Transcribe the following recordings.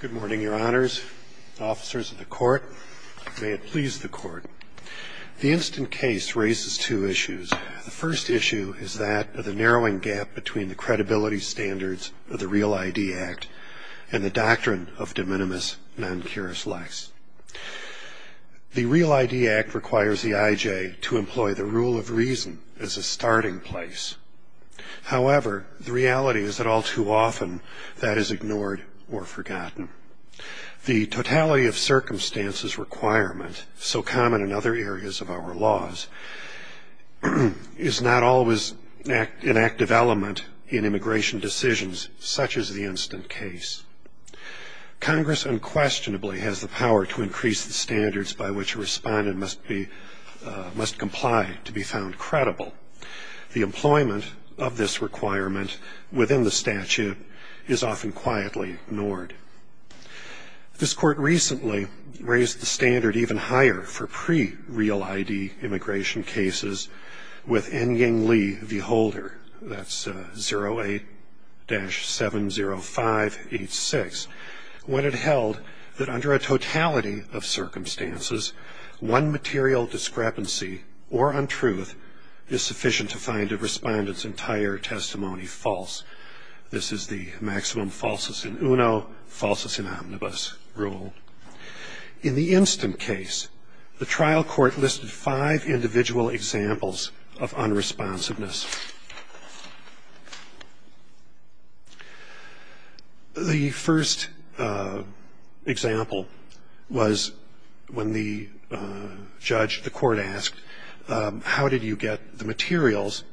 Good morning, your honors, officers of the court. May it please the court. The instant case raises two issues. The first issue is that of the narrowing gap between the credibility standards of the REAL ID Act and the doctrine of de minimis non curis lex. The REAL ID Act requires the I.J. to employ the rule of reason as a starting place. However, the reality is that all too often that is ignored or forgotten. The totality of circumstances requirement, so common in other areas of our laws, is not always an active element in immigration decisions such as the instant case. Congress unquestionably has the power to increase the standards by which a respondent must comply to be found credible. The employment of this requirement within the statute is often quietly ignored. This court recently raised the standard even higher for pre-REAL ID immigration cases with N. Ying Lee v. Holder, that's 08-70586, when it held that under a totality of circumstances, one material discrepancy or untruth is sufficient to find a respondent's entire testimony false. This is the maximum falsus in uno, falsus in omnibus rule. In the instant case, the trial court listed five individual examples of unresponsiveness. The first example was when the judge, the court asked, how did you get the materials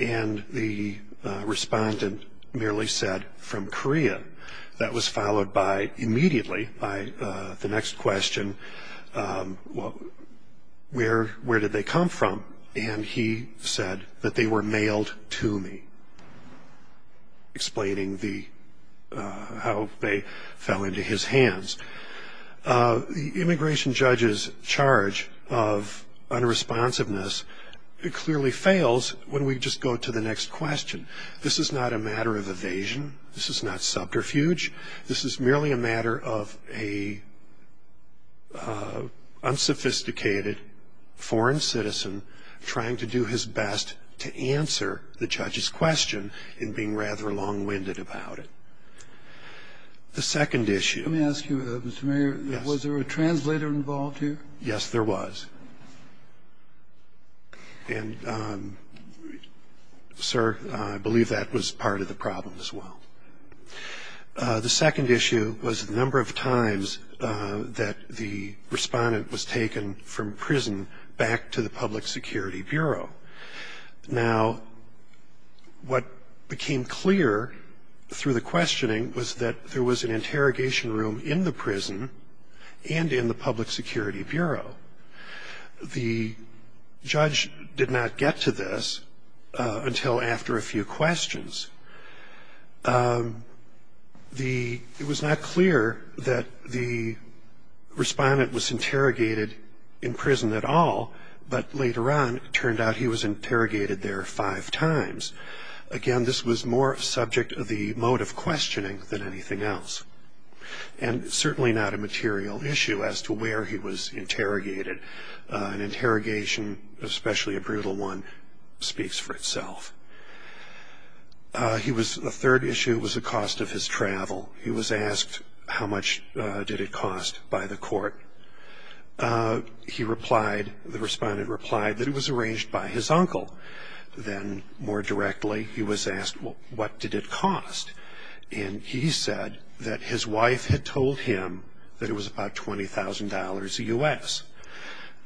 and the respondent merely said, from Korea. That was followed by, immediately, by the next question, where did they come from? And he said that they were mailed to me, explaining how they fell into his hands. The immigration judge's charge of unresponsiveness clearly fails when we just go to the next question. This is not a matter of evasion. This is not subterfuge. This is merely a matter of an unsophisticated foreign citizen trying to do his best to answer the judge's question and being rather long-winded about it. The second issue. Let me ask you, Mr. Mayor, was there a translator involved here? Yes, there was. And, sir, I believe that was part of the problem as well. The second issue was the number of times that the respondent was taken from prison back to the Public Security Bureau. Now, what became clear through the questioning was that there was an interrogation room in the prison and in the Public Security Bureau. The judge did not get to this until after a few questions. It was not clear that the respondent was interrogated in prison at all, but later on it turned out he was interrogated there five times. Again, this was more subject of the mode of questioning than anything else, and certainly not a material issue as to where he was interrogated. An interrogation, especially a brutal one, speaks for itself. The third issue was the cost of his travel. He was asked how much did it cost by the court. The respondent replied that it was arranged by his uncle. Then, more directly, he was asked what did it cost, and he said that his wife had told him that it was about $20,000 a U.S.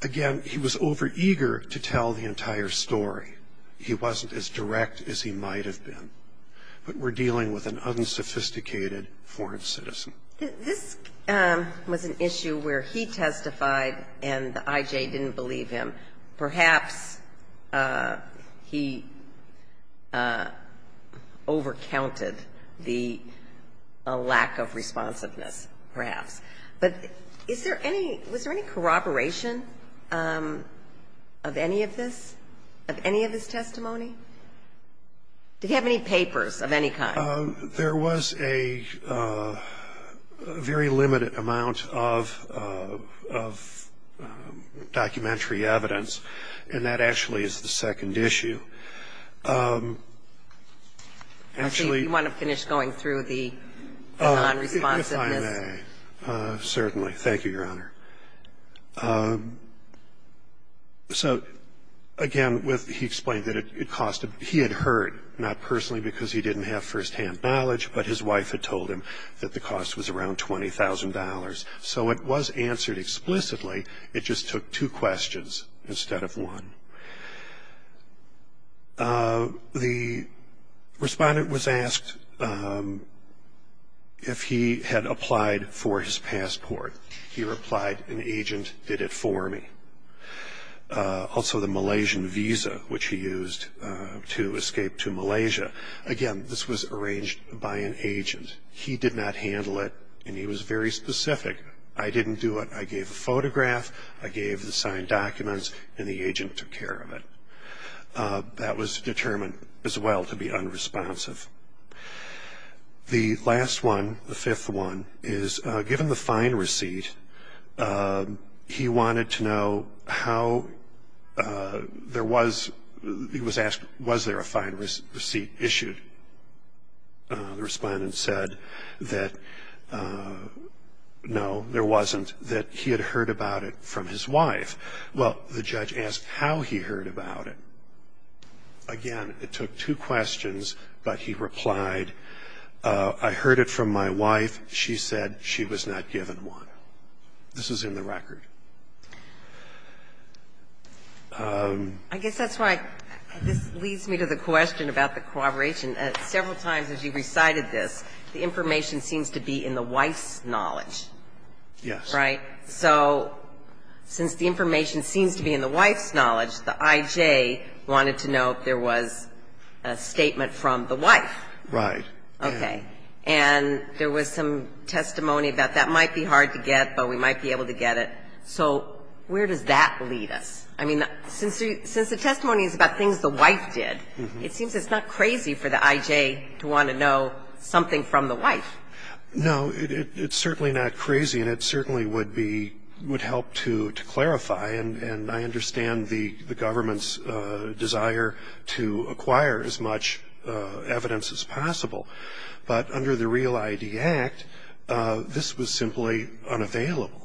Again, he was overeager to tell the entire story. He wasn't as direct as he might have been. But we're dealing with an unsophisticated foreign citizen. This was an issue where he testified and the I.J. didn't believe him. Perhaps he overcounted the lack of responsiveness, perhaps. But is there any – was there any corroboration of any of this, of any of his testimony? Did he have any papers of any kind? There was a very limited amount of documentary evidence, and that actually is the second issue. Actually – Do you want to finish going through the non-responsiveness? If I may. Certainly. Thank you, Your Honor. So, again, he explained that it cost – he had heard, not personally because he didn't have firsthand knowledge, but his wife had told him that the cost was around $20,000. So it was answered explicitly. It just took two questions instead of one. The respondent was asked if he had applied for his passport. He replied, an agent did it for me. Also the Malaysian visa, which he used to escape to Malaysia. Again, this was arranged by an agent. He did not handle it, and he was very specific. I didn't do it. I gave a photograph, I gave the signed documents, and the agent took care of it. That was determined as well to be unresponsive. The last one, the fifth one, is given the fine receipt, he wanted to know how there was – he was asked, was there a fine receipt issued? The respondent said that, no, there wasn't, that he had heard about it from his wife. Well, the judge asked how he heard about it. Again, it took two questions, but he replied, I heard it from my wife. She said she was not given one. This is in the record. I guess that's why this leads me to the question about the corroboration. Several times as you recited this, the information seems to be in the wife's knowledge. Yes. Right? So since the information seems to be in the wife's knowledge, the I.J. wanted to know if there was a statement from the wife. Right. Okay. And there was some testimony about that might be hard to get, but we might be able to get it. So where does that lead us? I mean, since the testimony is about things the wife did, it seems it's not crazy for the I.J. to want to know something from the wife. No, it's certainly not crazy, and it certainly would help to clarify, and I understand the government's desire to acquire as much evidence as possible. But under the Real ID Act, this was simply unavailable.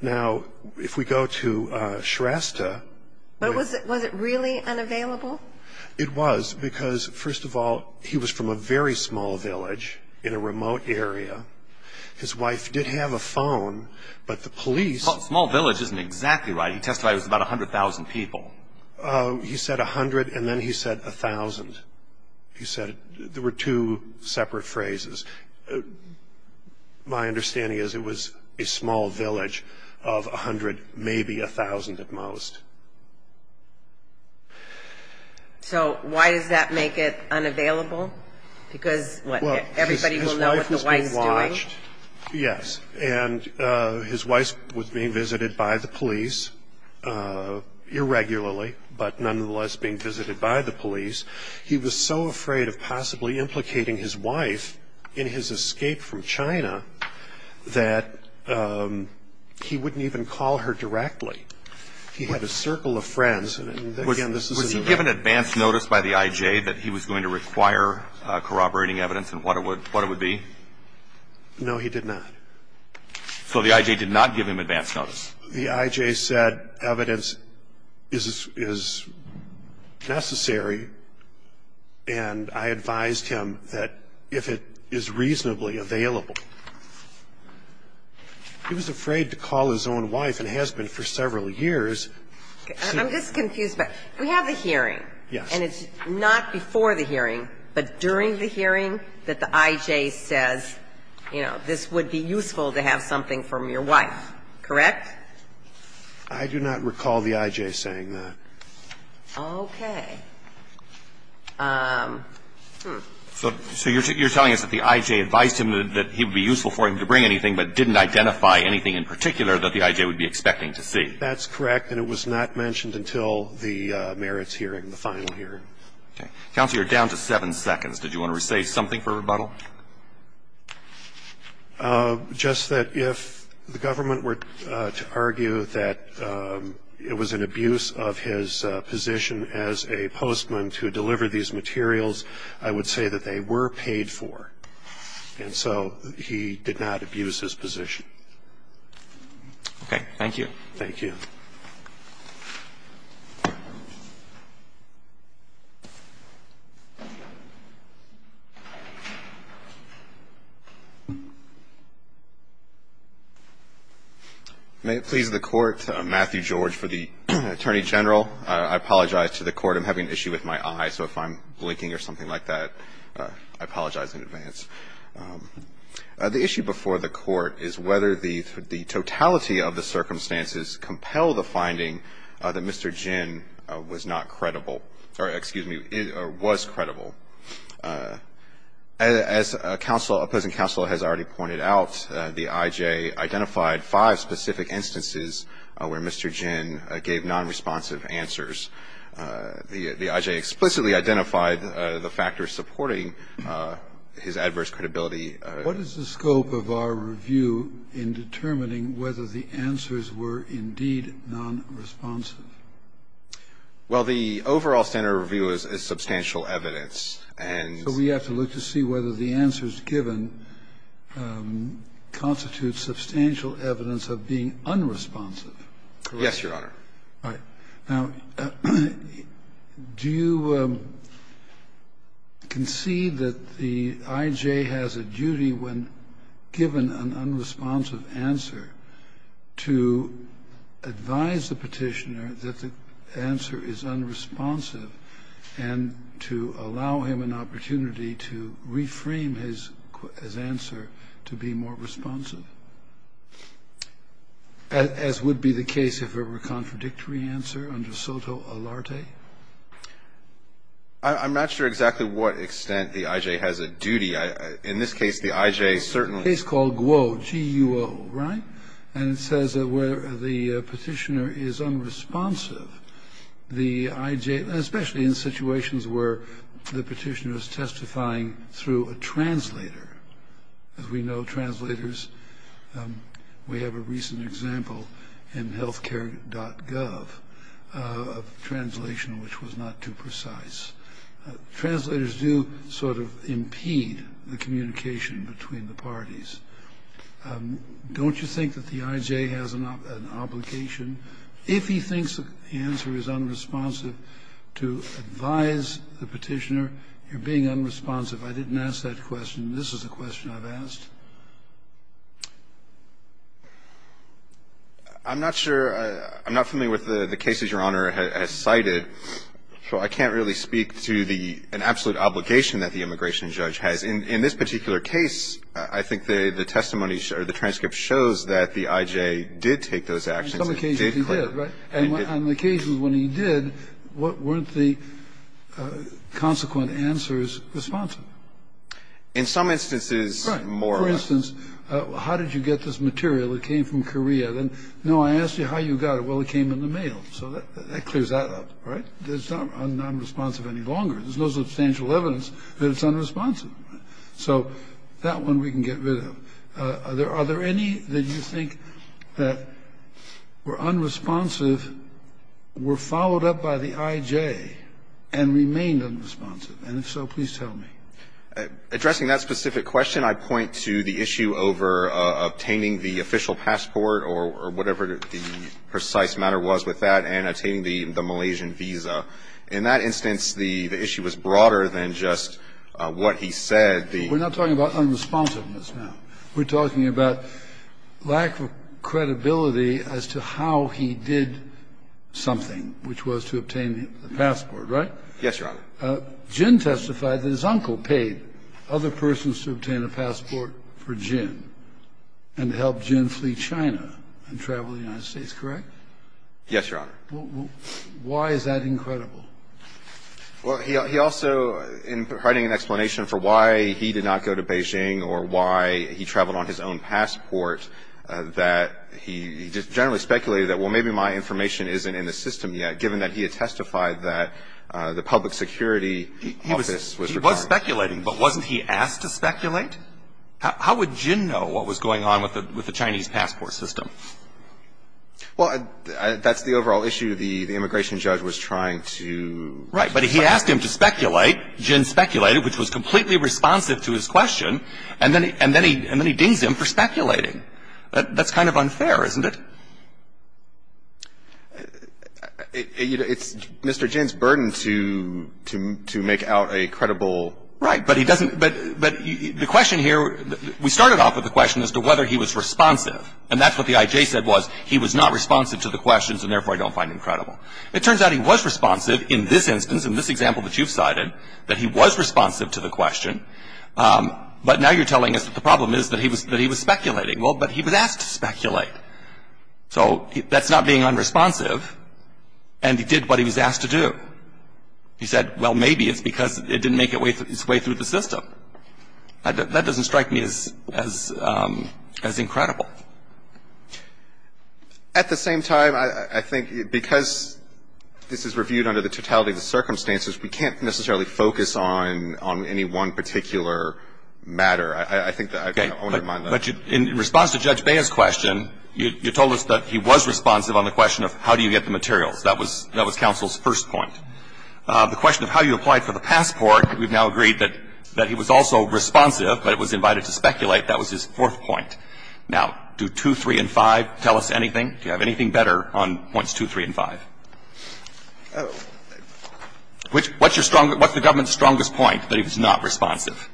Now, if we go to Shrestha. Was it really unavailable? It was, because, first of all, he was from a very small village in a remote area. His wife did have a phone, but the police. Small village isn't exactly right. He testified it was about 100,000 people. He said 100, and then he said 1,000. There were two separate phrases. My understanding is it was a small village of 100, maybe 1,000 at most. So why does that make it unavailable? Because, what, everybody will know what the wife's doing? Well, his wife was being watched, yes, and his wife was being visited by the police irregularly, but nonetheless being visited by the police. He was so afraid of possibly implicating his wife in his escape from China that he wouldn't even call her directly. He had a circle of friends. Was he given advance notice by the I.J. that he was going to require corroborating evidence and what it would be? No, he did not. So the I.J. did not give him advance notice. The I.J. said evidence is necessary, and I advised him that if it is reasonably available. He was afraid to call his own wife and husband for several years. I'm just confused. We have the hearing, and it's not before the hearing, but during the hearing that the I.J. says, you know, this would be useful to have something from your wife, correct? I do not recall the I.J. saying that. Okay. So you're telling us that the I.J. advised him that it would be useful for him to bring anything, but didn't identify anything in particular that the I.J. would be expecting to see. That's correct, and it was not mentioned until the merits hearing, the final hearing. Okay. Counsel, you're down to 7 seconds. Did you want to say something for rebuttal? Just that if the government were to argue that it was an abuse of his position as a postman to deliver these materials, I would say that they were paid for, and so he did not abuse his position. Okay. Thank you. Thank you. May it please the Court, Matthew George for the Attorney General. I apologize to the Court. I'm having an issue with my eye, so if I'm blinking or something like that, I apologize in advance. The issue before the Court is whether the totality of the circumstances compel the finding that Mr. Ginn was not credible, or excuse me, was credible. As counsel, opposing counsel has already pointed out, the I.J. identified five specific instances where Mr. Ginn gave nonresponsive answers. The I.J. explicitly identified the factors supporting his adverse credibility. What is the scope of our review in determining whether the answers were indeed nonresponsive? Well, the overall standard of review is substantial evidence, and so we have to look given constitutes substantial evidence of being unresponsive. Yes, Your Honor. All right. Now, do you concede that the I.J. has a duty, when given an unresponsive answer, to advise the Petitioner that the answer is unresponsive and to allow him an opportunity to reframe his answer to be more responsive, as would be the case if it were a contradictory answer under soto alarte? I'm not sure exactly what extent the I.J. has a duty. In this case, the I.J. certainly It's a case called Guo, G-U-O, right? And it says that where the Petitioner is unresponsive, the I.J. Especially in situations where the Petitioner is testifying through a translator. As we know, translators, we have a recent example in healthcare.gov, a translation which was not too precise. Translators do sort of impede the communication between the parties. Don't you think that the I.J. has an obligation? If he thinks the answer is unresponsive to advise the Petitioner, you're being unresponsive. I didn't ask that question. This is the question I've asked. I'm not sure. I'm not familiar with the cases Your Honor has cited, so I can't really speak to the absolute obligation that the immigration judge has. In this particular case, I think the testimony or the transcript shows that the I.J. did take those actions. In some cases he did, right? And on occasions when he did, weren't the consequent answers responsive? In some instances, more. Right. For instance, how did you get this material? It came from Korea. Then, no, I asked you how you got it. Well, it came in the mail. So that clears that up, right? It's not unresponsive any longer. There's no substantial evidence that it's unresponsive. So that one we can get rid of. Are there any that you think that were unresponsive, were followed up by the I.J., and remained unresponsive? And if so, please tell me. Addressing that specific question, I point to the issue over obtaining the official passport or whatever the precise matter was with that, and obtaining the Malaysian visa. In that instance, the issue was broader than just what he said. We're not talking about unresponsiveness now. We're talking about lack of credibility as to how he did something, which was to obtain the passport, right? Yes, Your Honor. Jin testified that his uncle paid other persons to obtain a passport for Jin and helped Jin flee China and travel the United States, correct? Yes, Your Honor. Why is that incredible? Well, he also, in writing an explanation for why he did not go to Beijing or why he traveled on his own passport, that he just generally speculated that, well, maybe my information isn't in the system yet, given that he had testified that the public security office was required. He was speculating, but wasn't he asked to speculate? How would Jin know what was going on with the Chinese passport system? Well, that's the overall issue. The immigration judge was trying to find out. Right. But he asked him to speculate. Jin speculated, which was completely responsive to his question. And then he dings him for speculating. That's kind of unfair, isn't it? It's Mr. Jin's burden to make out a credible question. Right. But he doesn't – but the question here, we started off with the question as to whether he was responsive. And that's what the IJ said was, he was not responsive to the questions and, therefore, I don't find him credible. It turns out he was responsive in this instance, in this example that you've cited, that he was responsive to the question. But now you're telling us that the problem is that he was speculating. Well, but he was asked to speculate. So that's not being unresponsive. And he did what he was asked to do. He said, well, maybe it's because it didn't make its way through the system. That doesn't strike me as – as incredible. At the same time, I think because this is reviewed under the totality of the circumstances, we can't necessarily focus on any one particular matter. I think that I wouldn't mind that. Okay. But in response to Judge Baer's question, you told us that he was responsive on the question of how do you get the materials. That was counsel's first point. The question of how you applied for the passport, we've now agreed that he was also responsive, but it was invited to speculate. That was his fourth point. Now, do 2, 3, and 5 tell us anything? Do you have anything better on points 2, 3, and 5? What's your strongest – what's the government's strongest point, that he was not responsive?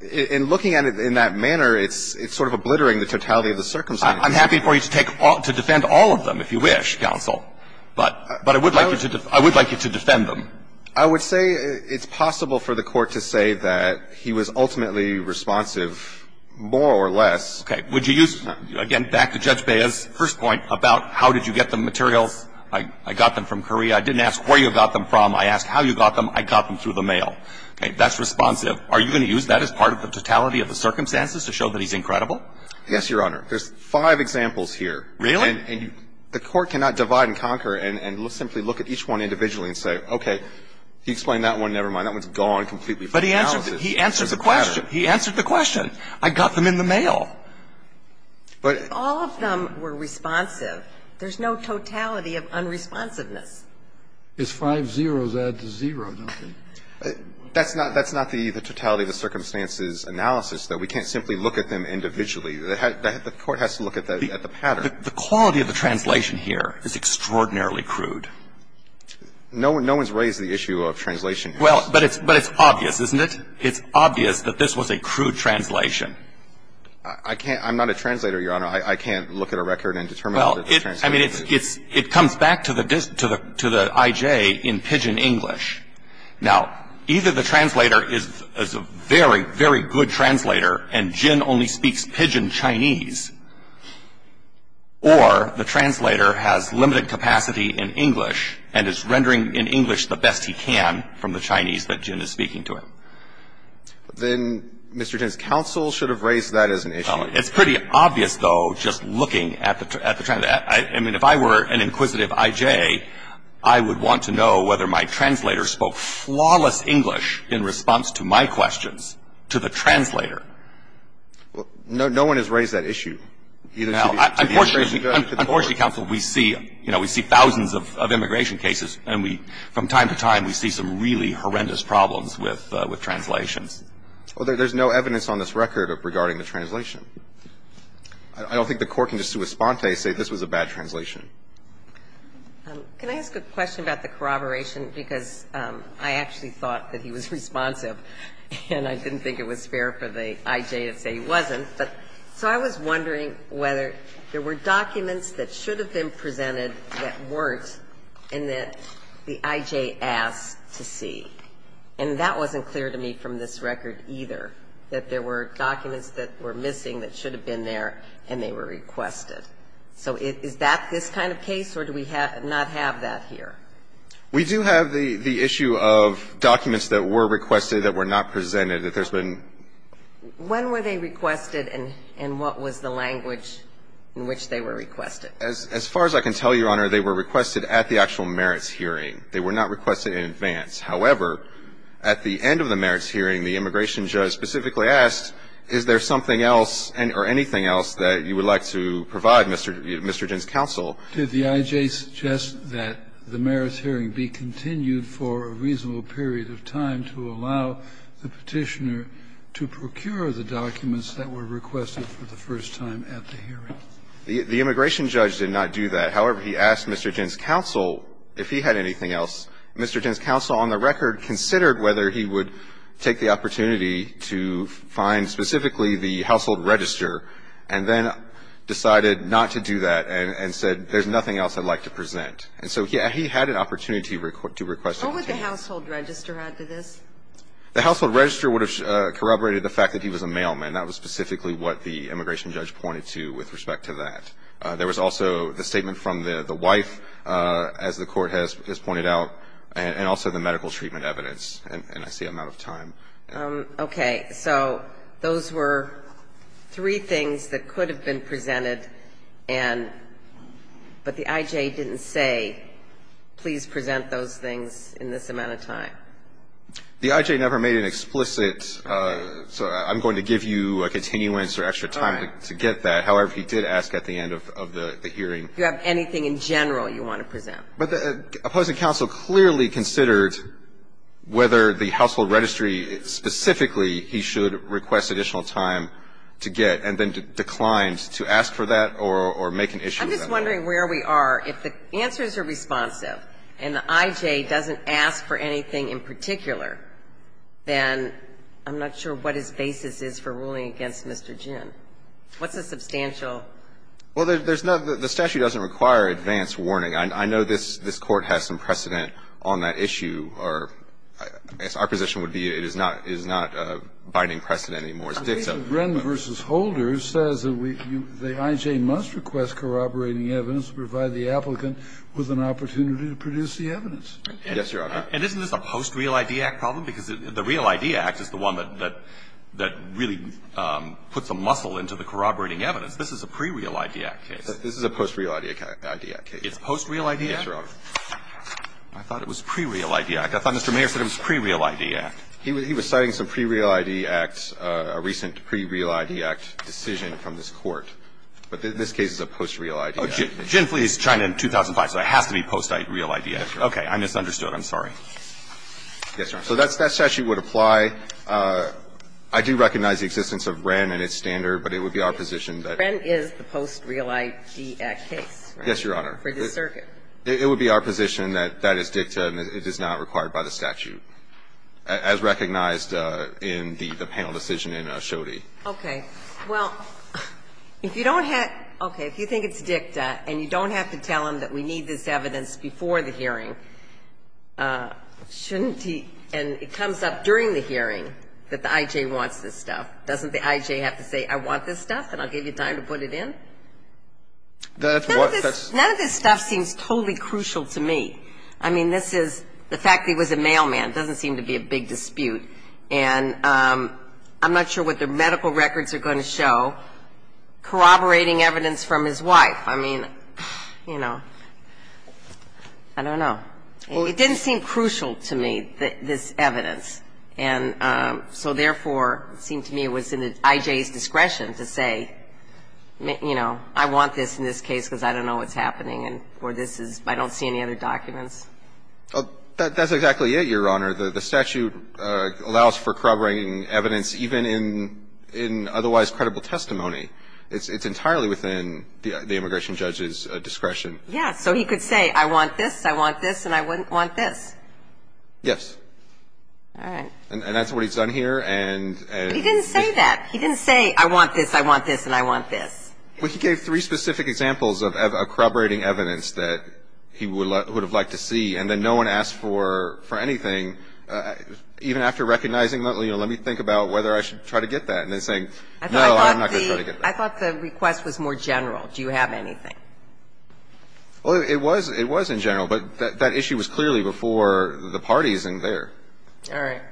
In looking at it in that manner, it's sort of obliterating the totality of the circumstances. I'm happy for you to take – to defend all of them, if you wish, counsel. But I would like you to – I would like you to defend them. I would say it's possible for the Court to say that he was ultimately responsive, more or less. Okay. Would you use – again, back to Judge Baer's first point about how did you get the materials. I got them from Korea. I didn't ask where you got them from. I asked how you got them. I got them through the mail. Okay. That's responsive. Are you going to use that as part of the totality of the circumstances to show that he's incredible? Yes, Your Honor. There's five examples here. Really? And the Court cannot divide and conquer and simply look at each one individually and say, okay, he explained that one. Never mind. That one's gone completely. But he answered – he answered the question. He answered the question. I got them in the mail. But – If all of them were responsive, there's no totality of unresponsiveness. His five zeros add to zero, don't they? That's not – that's not the totality of the circumstances analysis, though. We can't simply look at them individually. The Court has to look at the pattern. The quality of the translation here is extraordinarily crude. No one's raised the issue of translation here. Well, but it's obvious, isn't it? It's obvious that this was a crude translation. I can't – I'm not a translator, Your Honor. I can't look at a record and determine what the translation is. Well, I mean, it's – it comes back to the I.J. in pidgin English. Now, either the translator is a very, very good translator and Jin only speaks pidgin Chinese, or the translator has limited capacity in English and is rendering in English the best he can from the Chinese that Jin is speaking to him. Then Mr. Jin's counsel should have raised that as an issue. It's pretty obvious, though, just looking at the – I mean, if I were an inquisitive I.J., I would want to know whether my translator spoke flawless English in response to my questions to the translator. Well, no one has raised that issue. Unfortunately, counsel, we see – you know, we see thousands of immigration cases, and we – from time to time we see some really horrendous problems with translations. Well, there's no evidence on this record regarding the translation. I don't think the Court can just sui sponte say this was a bad translation. Can I ask a question about the corroboration? Because I actually thought that he was responsive, and I didn't think it was fair for the I.J. to say he wasn't. So I was wondering whether there were documents that should have been presented that weren't and that the I.J. asked to see. And that wasn't clear to me from this record either, that there were documents that were missing that should have been there and they were requested. So is that this kind of case, or do we not have that here? We do have the issue of documents that were requested that were not presented, that there's been – When were they requested, and what was the language in which they were requested? As far as I can tell, Your Honor, they were requested at the actual merits hearing. They were not requested in advance. However, at the end of the merits hearing, the immigration judge specifically asked, is there something else or anything else that you would like to provide Mr. Ginn's counsel? Did the I.J. suggest that the merits hearing be continued for a reasonable period of time to allow the Petitioner to procure the documents that were requested for the first time at the hearing? The immigration judge did not do that. However, he asked Mr. Ginn's counsel if he had anything else. Mr. Ginn's counsel, on the record, considered whether he would take the opportunity to find specifically the household register, and then decided not to do that and said, there's nothing else I'd like to present. And so he had an opportunity to request it. What would the household register add to this? The household register would have corroborated the fact that he was a mailman. That was specifically what the immigration judge pointed to with respect to that. There was also the statement from the wife, as the Court has pointed out, and also the medical treatment evidence. And I see I'm out of time. Okay. So those were three things that could have been presented, and but the I.J. didn't say, please present those things in this amount of time. The I.J. never made an explicit, I'm going to give you a continuance or extra time to get that. However, he did ask at the end of the hearing. If you have anything in general you want to present. But the opposing counsel clearly considered whether the household registry specifically he should request additional time to get, and then declined to ask for that or make an issue of that. I'm just wondering where we are. If the answers are responsive and the I.J. doesn't ask for anything in particular, then I'm not sure what his basis is for ruling against Mr. Ginn. What's the substantial? Well, there's no the statute doesn't require advance warning. I know this Court has some precedent on that issue. Our position would be it is not a binding precedent anymore. It's dicta. The case of Wren v. Holder says that the I.J. must request corroborating evidence to provide the applicant with an opportunity to produce the evidence. Yes, Your Honor. And isn't this a post Real ID Act problem? Because the Real ID Act is the one that really puts a muscle into the corroborating evidence. This is a pre-Real ID Act case. This is a post Real ID Act case. It's post Real ID Act? Yes, Your Honor. I thought it was pre-Real ID Act. I thought Mr. Mayer said it was pre-Real ID Act. He was citing some pre-Real ID Act, a recent pre-Real ID Act decision from this Court. But this case is a post Real ID Act. Oh, Ginn v. China in 2005, so it has to be post Real ID Act. Yes, Your Honor. I misunderstood. I'm sorry. Yes, Your Honor. So that statute would apply. I do recognize the existence of Wren and its standard, but it would be our position that. Wren is the post Real ID Act case, right? Yes, Your Honor. For the circuit. It would be our position that that is dicta and it is not required by the statute, as recognized in the panel decision in Ashodi. Okay. Well, if you don't have to – okay. If you think it's dicta and you don't have to tell him that we need this evidence before the hearing, shouldn't he – and it comes up during the hearing that the I.J. wants this stuff. Doesn't the I.J. have to say, I want this stuff and I'll give you time to put it in? None of this stuff seems totally crucial to me. I mean, this is – the fact that he was a mailman doesn't seem to be a big dispute. And I'm not sure what the medical records are going to show corroborating evidence from his wife. I mean, you know, I don't know. It didn't seem crucial to me, this evidence. And so, therefore, it seemed to me it was in the I.J.'s discretion to say, you know, I want this in this case because I don't know what's happening or this is – I don't see any other documents. That's exactly it, Your Honor. The statute allows for corroborating evidence even in otherwise credible testimony. It's entirely within the immigration judge's discretion. Yeah, so he could say, I want this, I want this, and I wouldn't want this. Yes. All right. And that's what he's done here. But he didn't say that. He didn't say, I want this, I want this, and I want this. Well, he gave three specific examples of corroborating evidence that he would have liked to see. And then no one asked for anything. Even after recognizing that, you know, let me think about whether I should try to get that. And then saying, no, I'm not going to try to get that. I thought the request was more general. Do you have anything? Well, it was in general, but that issue was clearly before the parties in there. All right.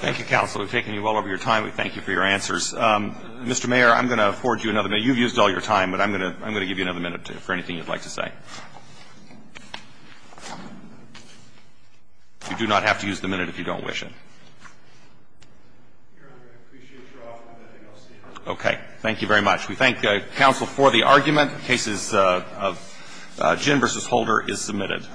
Thank you, counsel. We've taken you well over your time. We thank you for your answers. Mr. Mayor, I'm going to forward you another minute. You've used all your time, but I'm going to give you another minute for anything you'd like to say. You do not have to use the minute if you don't wish it. Okay. Thank you very much. We thank counsel for the argument. The case of Ginn v. Holder is submitted.